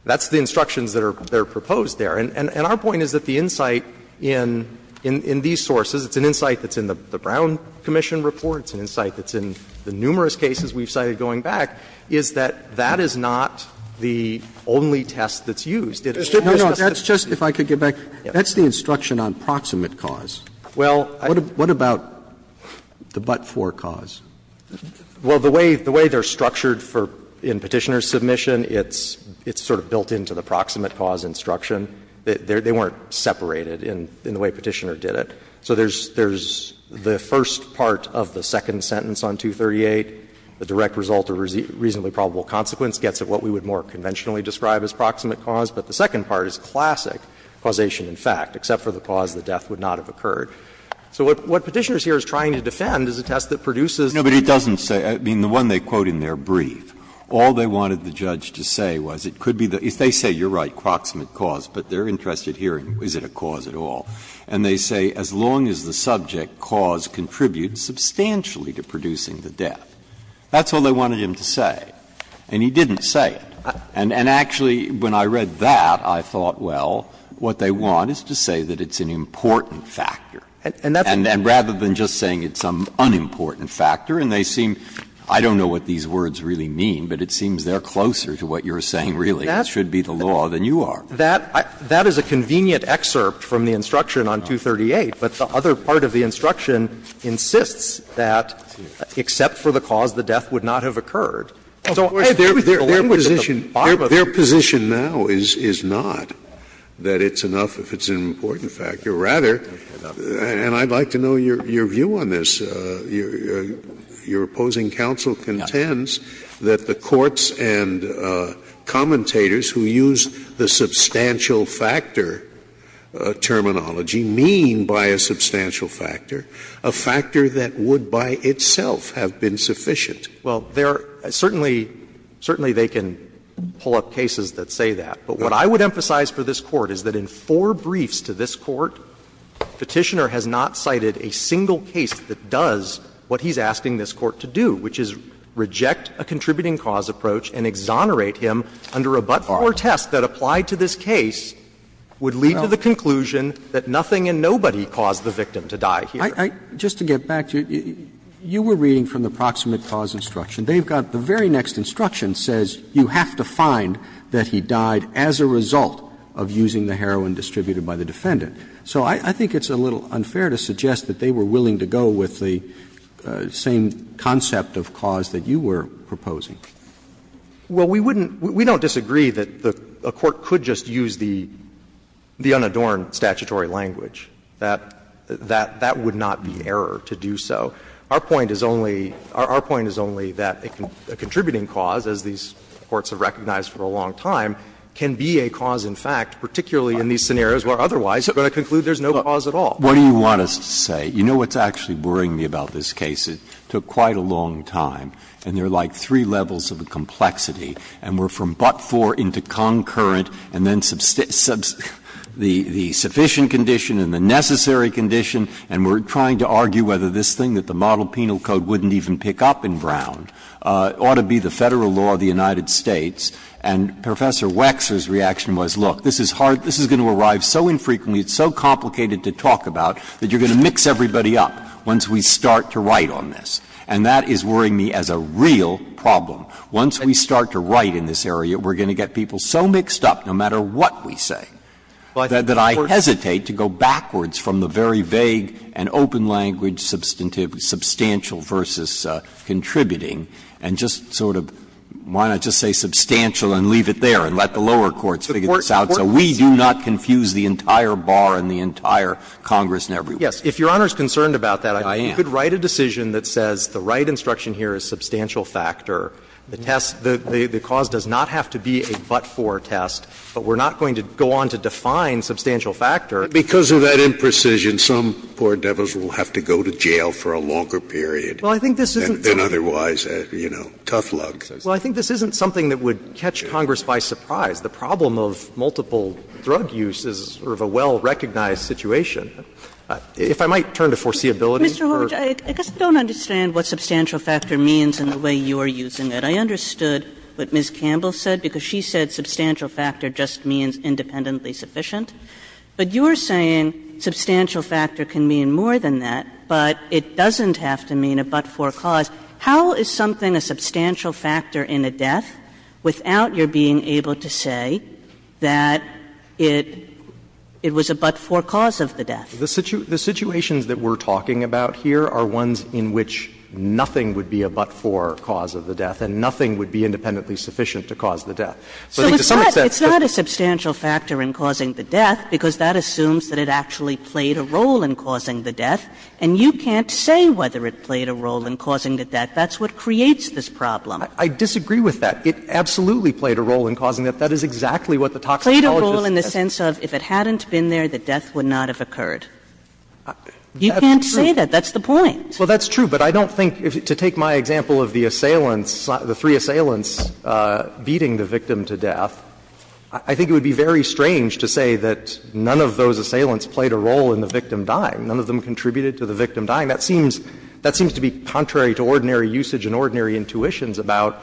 That's the instructions that are proposed there. And our point is that the insight in these sources, it's an insight that's in the Brown Commission report, it's an insight that's in the numerous cases we've cited going back, is that that is not the only test that's used. It's just that's the only test that's used. Roberts No, no, that's just, if I could get back, that's the instruction on proximate cause. What about the but-for cause? Well, the way they're structured in Petitioner's submission, it's sort of built into the proximate cause instruction. They weren't separated in the way Petitioner did it. So there's the first part of the second sentence on 238, the direct result of reasonably probable consequence, gets at what we would more conventionally describe as proximate cause, but the second part is classic causation in fact, except for the cause, the death would not have occurred. So what Petitioner's here is trying to defend is a test that produces. Breyer No, but it doesn't say, I mean, the one they quote in there, brief, all they wanted the judge to say was it could be the, if they say you're right, proximate cause, but they're interested here in is it a cause at all. And they say as long as the subject cause contributes substantially to producing the death. That's all they wanted him to say, and he didn't say it. And actually, when I read that, I thought, well, what they want is to say that it's an important factor. And rather than just saying it's some unimportant factor, and they seem, I don't know what these words really mean, but it seems they're closer to what you're saying, really. It should be the law than you are. That is a convenient excerpt from the instruction on 238, but the other part of the instruction insists that, except for the cause, the death would not have occurred. So I think the language at the bottom of it is that it's an important factor. Scalia Their position now is not that it's enough if it's an important factor. Rather, and I'd like to know your view on this, your opposing counsel contends that the courts and commentators who use the substantial factor terminology mean by a substantial factor a factor that would by itself have been sufficient. Well, there are certainly they can pull up cases that say that. But what I would emphasize for this Court is that in four briefs to this Court, Petitioner has not cited a single case that does what he's asking this Court to do, which is reject a contributing cause approach and exonerate him under a but-for test that applied to this case would lead to the conclusion that nothing and nobody caused the victim to die here. Roberts Just to get back to it, you were reading from the proximate cause instruction. They've got the very next instruction says you have to find that he died as a result of using the heroin distributed by the defendant. So I think it's a little unfair to suggest that they were willing to go with the same concept of cause that you were proposing. Well, we wouldn't we don't disagree that a court could just use the unadorned statutory language. That would not be an error to do so. Our point is only, our point is only that a contributing cause, as these courts have recognized for a long time, can be a cause in fact, particularly in these scenarios where otherwise you're going to conclude there's no cause at all. Breyer What do you want us to say? You know what's actually worrying me about this case? It took quite a long time, and there are like three levels of complexity, and we're from but-for into concurrent and then the sufficient condition and the necessary condition, and we're trying to argue whether this thing that the model penal code wouldn't even pick up in Brown ought to be the Federal law of the United States, and Professor Wexler's reaction was, look, this is hard, this is going to arrive so infrequently, it's so complicated to talk about, that you're going to mix everybody up once we start to write on this, and that is worrying me as a real problem. Once we start to write in this area, we're going to get people so mixed up, no matter what we say, that I hesitate to go backwards from the very vague and open-language substantial versus contributing, and just sort of, why not just say substantial and leave it there and let the lower courts figure this out, so we do not confuse the entire bar and the entire Congress and everybody. Shanmugam Yes. If Your Honor is concerned about that, I think you could write a decision that says the right instruction here is substantial factor. The test, the cause does not have to be a but-for test, but we're not going to go on to define substantial factor. Scalia Because of that imprecision, some poor devils will have to go to jail for a longer period than otherwise, you know, tough luck. Shanmugam Well, I think this isn't something that would catch Congress by surprise. The problem of multiple drug use is sort of a well-recognized situation. If I might turn to foreseeability for the Court. Kagan I'm not suggesting that. I understood what Ms. Campbell said, because she said substantial factor just means independently sufficient. But you're saying substantial factor can mean more than that, but it doesn't have to mean a but-for cause. How is something a substantial factor in a death without your being able to say that it was a but-for cause of the death? Shanmugam The situations that we're talking about here are ones in which nothing would be a but-for cause of the death and nothing would be independently sufficient to cause the death. But I think to some extent that's the case. Kagan So it's not a substantial factor in causing the death, because that assumes that it actually played a role in causing the death, and you can't say whether it played a role in causing the death. That's what creates this problem. Shanmugam I disagree with that. It absolutely played a role in causing the death. That is exactly what the toxicologist says. Kagan It played a role in the sense of if it hadn't been there, the death would not have occurred. You can't say that. That's the point. Shanmugam Well, that's true. But I don't think, to take my example of the assailants, the three assailants beating the victim to death, I think it would be very strange to say that none of those assailants played a role in the victim dying. None of them contributed to the victim dying. That seems to be contrary to ordinary usage and ordinary intuitions about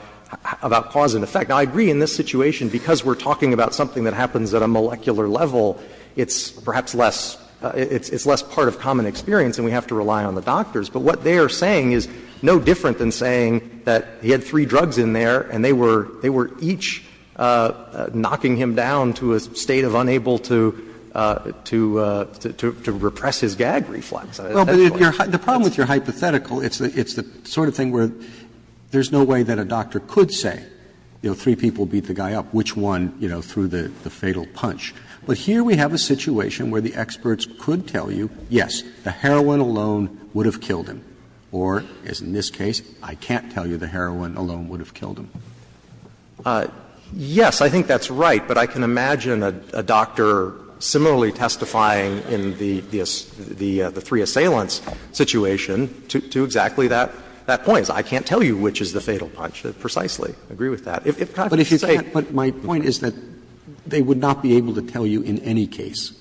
cause and effect. Now, I agree in this situation, because we're talking about something that happens at a molecular level, it's perhaps less — it's less part of common experience and we have to rely on the doctors. But what they are saying is no different than saying that he had three drugs in there and they were each knocking him down to a state of unable to repress his gag reflex. Roberts. Roberts The problem with your hypothetical, it's the sort of thing where there's no way that a doctor could say, you know, three people beat the guy up, which one, you know, threw the fatal punch. But here we have a situation where the experts could tell you, yes, the heroin alone would have killed him, or, as in this case, I can't tell you the heroin alone would have killed him. Shanmugam Yes, I think that's right, but I can imagine a doctor similarly testifying in the three assailants situation to exactly that point. I can't tell you which is the fatal punch precisely. I agree with that. If Congress could say that. Roberts But my point is that they would not be able to tell you in any case.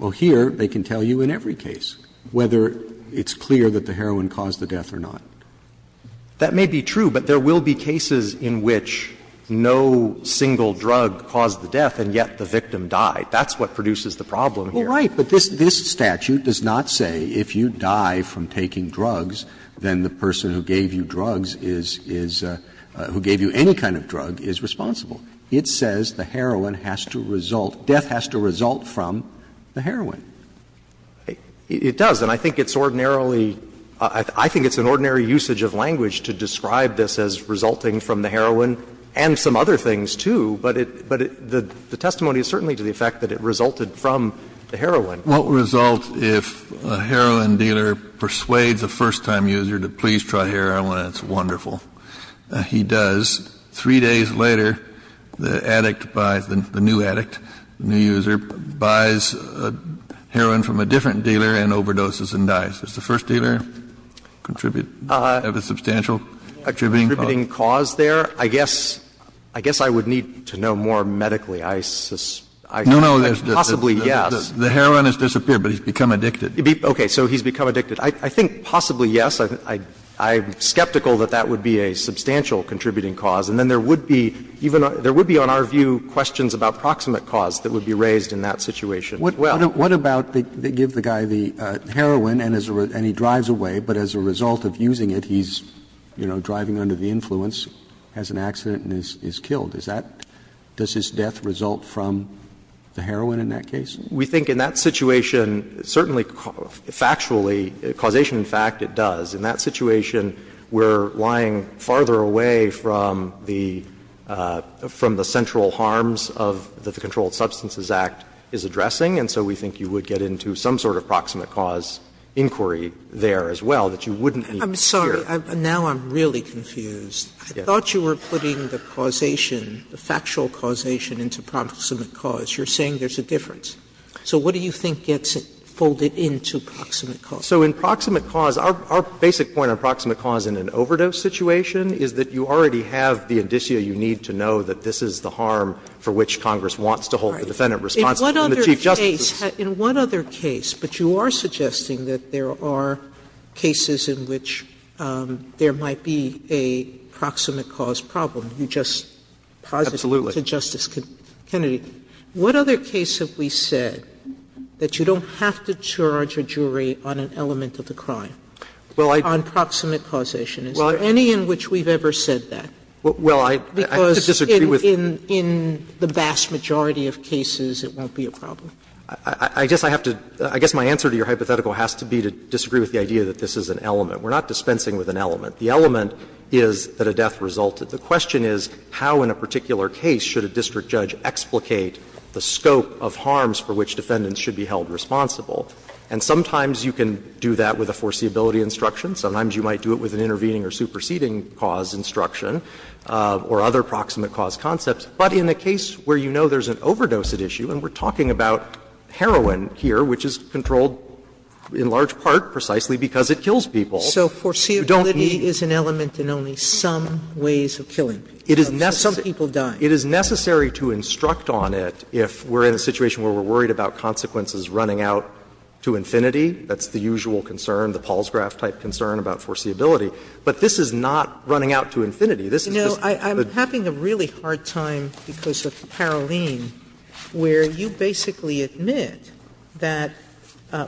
Well, here they can tell you in every case, whether it's clear that the heroin caused the death or not. Shanmugam That may be true, but there will be cases in which no single drug caused the death, and yet the victim died. That's what produces the problem here. Roberts Well, right, but this statute does not say if you die from taking drugs, then the person who gave you drugs is, is, who gave you any kind of drug is responsible. It says the heroin has to result, death has to result from the heroin. Shanmugam It does, and I think it's ordinarily, I think it's an ordinary usage of language to describe this as resulting from the heroin and some other things, too. But it, but the testimony is certainly to the effect that it resulted from the heroin. Kennedy What result if a heroin dealer persuades a first-time user to please try heroin? That's wonderful. He does. Three days later, the addict buys, the new addict, the new user, buys heroin from a different dealer and overdoses and dies. Does the first dealer contribute, have a substantial contributing cause? Shanmugam Contributing cause there? I guess, I guess I would need to know more medically. I, I, I, possibly yes. Kennedy No, no, the heroin has disappeared, but he's become addicted. Shanmugam Okay, so he's become addicted. I, I think possibly yes. I, I, I'm skeptical that that would be a substantial contributing cause. And then there would be, even, there would be on our view questions about proximate cause that would be raised in that situation as well. Roberts What about they give the guy the heroin and as a result, and he drives away, but as a result of using it, he's, you know, driving under the influence, has an accident and is, is killed. Is that, does his death result from the heroin in that case? Shanmugam We think in that situation, certainly factually, causation in fact, it does. In that situation, we're lying farther away from the, from the central harms of the Controlled Substances Act is addressing, and so we think you would get into some sort of proximate cause inquiry there as well that you wouldn't need to hear. Sotomayor I'm sorry, now I'm really confused. I thought you were putting the causation, the factual causation into proximate cause. You're saying there's a difference. So what do you think gets folded into proximate cause? Shanmugam So in proximate cause, our basic point on proximate cause in an overdose situation is that you already have the indicia you need to know that this is the harm for which Congress wants to hold the defendant responsible. Sotomayor In one other case, in one other case, but you are suggesting that there are cases in which there might be a proximate cause problem, you just posited to Justice Kennedy. Shanmugam Absolutely. Sotomayor What other case have we said that you don't have to charge a jury on an element of the crime, on proximate causation? Is there any in which we've ever said that? Shanmugam Well, I disagree with you. Sotomayor Because in the vast majority of cases it won't be a problem. Shanmugam I guess I have to – I guess my answer to your hypothetical has to be to disagree with the idea that this is an element. We're not dispensing with an element. The element is that a death resulted. The question is how in a particular case should a district judge explicate the scope of harms for which defendants should be held responsible. And sometimes you can do that with a foreseeability instruction. Sometimes you might do it with an intervening or superseding cause instruction or other proximate cause concepts. But in a case where you know there's an overdose at issue, and we're talking about heroin here, which is controlled in large part precisely because it kills people, you don't need to. Sotomayor So foreseeability is an element in only some ways of killing people. Shanmugam It is necessary. Sotomayor Some people die. Shanmugam It is necessary to instruct on it if we're in a situation where we're saying this is running out to infinity, that's the usual concern, the Paulsgraf type concern about foreseeability, but this is not running out to infinity. Sotomayor You know, I'm having a really hard time because of Paroline, where you basically admit that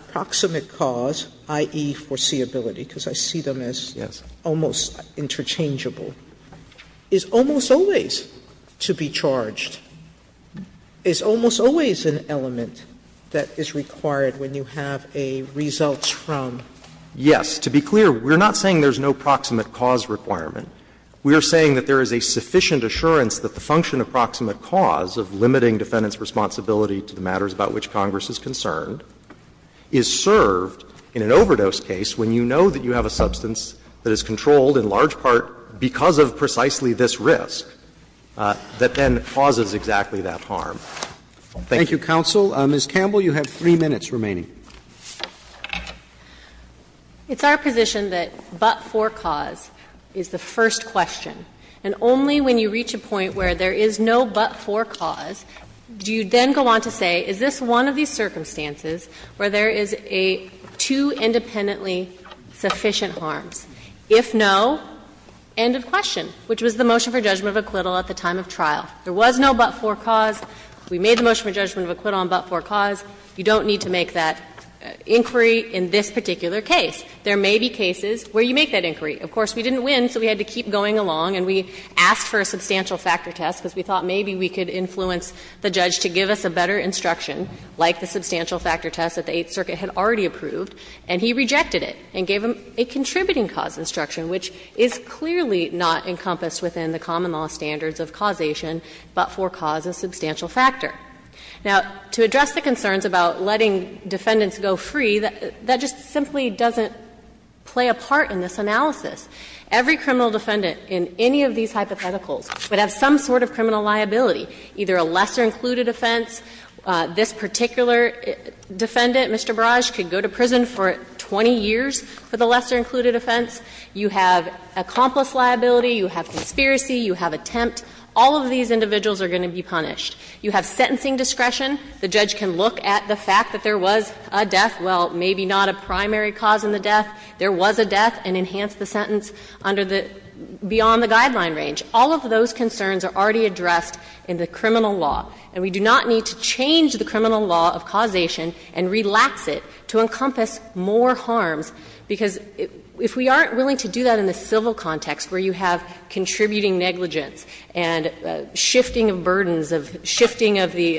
proximate cause, i.e., foreseeability, because I see them as almost interchangeable, is almost always to be charged, is almost always an element that is required when you have a results from. Shanmugam Yes. To be clear, we're not saying there's no proximate cause requirement. We are saying that there is a sufficient assurance that the function of proximate cause of limiting defendant's responsibility to the matters about which Congress is concerned is served in an overdose case when you know that you have a substance that is controlled in large part because of precisely this risk that then causes exactly that harm. Thank you. Thank you, counsel. Ms. Campbell, you have three minutes remaining. Campbell It's our position that but-for cause is the first question. And only when you reach a point where there is no but-for cause do you then go on to say is this one of these circumstances where there is a two independently sufficient harms. If no, end of question, which was the motion for judgment of acquittal at the time of trial. There was no but-for cause. We made the motion for judgment of acquittal on but-for cause. You don't need to make that inquiry in this particular case. There may be cases where you make that inquiry. Of course, we didn't win, so we had to keep going along and we asked for a substantial factor test because we thought maybe we could influence the judge to give us a better instruction, like the substantial factor test that the Eighth Circuit had already approved, and he rejected it and gave them a contributing cause instruction, which is clearly not encompassed within the common law standards of causation, but-for-cause is a substantial factor. Now, to address the concerns about letting defendants go free, that just simply doesn't play a part in this analysis. Every criminal defendant in any of these hypotheticals would have some sort of criminal liability, either a lesser included offense. This particular defendant, Mr. Barrage, could go to prison for 20 years for the lesser included offense. You have accomplice liability. You have conspiracy. You have attempt. All of these individuals are going to be punished. You have sentencing discretion. The judge can look at the fact that there was a death, well, maybe not a primary cause in the death. There was a death and enhance the sentence under the beyond the guideline range. All of those concerns are already addressed in the criminal law, and we do not need to change the criminal law of causation and relax it to encompass more harms, because if we aren't willing to do that in the civil context where you have contributing negligence and shifting of burdens, of shifting of the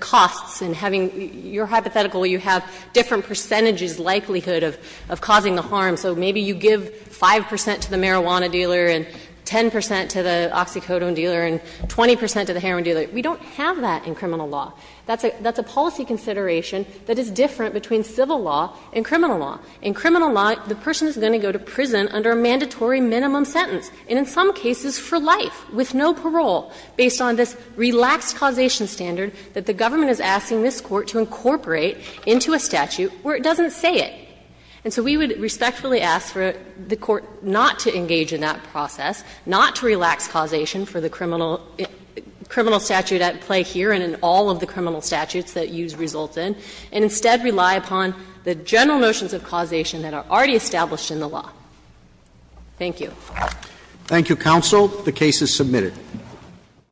costs and having your hypothetical, you have different percentages likelihood of causing the harm. So maybe you give 5 percent to the marijuana dealer and 10 percent to the oxycodone dealer and 20 percent to the heroin dealer. We don't have that in criminal law. That's a policy consideration that is different between civil law and criminal law. In criminal law, the person is going to go to prison under a mandatory minimum sentence. And in some cases for life, with no parole, based on this relaxed causation standard that the government is asking this Court to incorporate into a statute where it doesn't say it. And so we would respectfully ask for the Court not to engage in that process, not to relax causation for the criminal statute at play here and in all of the criminal statutes that youse result in, and instead rely upon the general notions of causation that are already established in the law. Thank you. Thank you, Counsel. The case is submitted.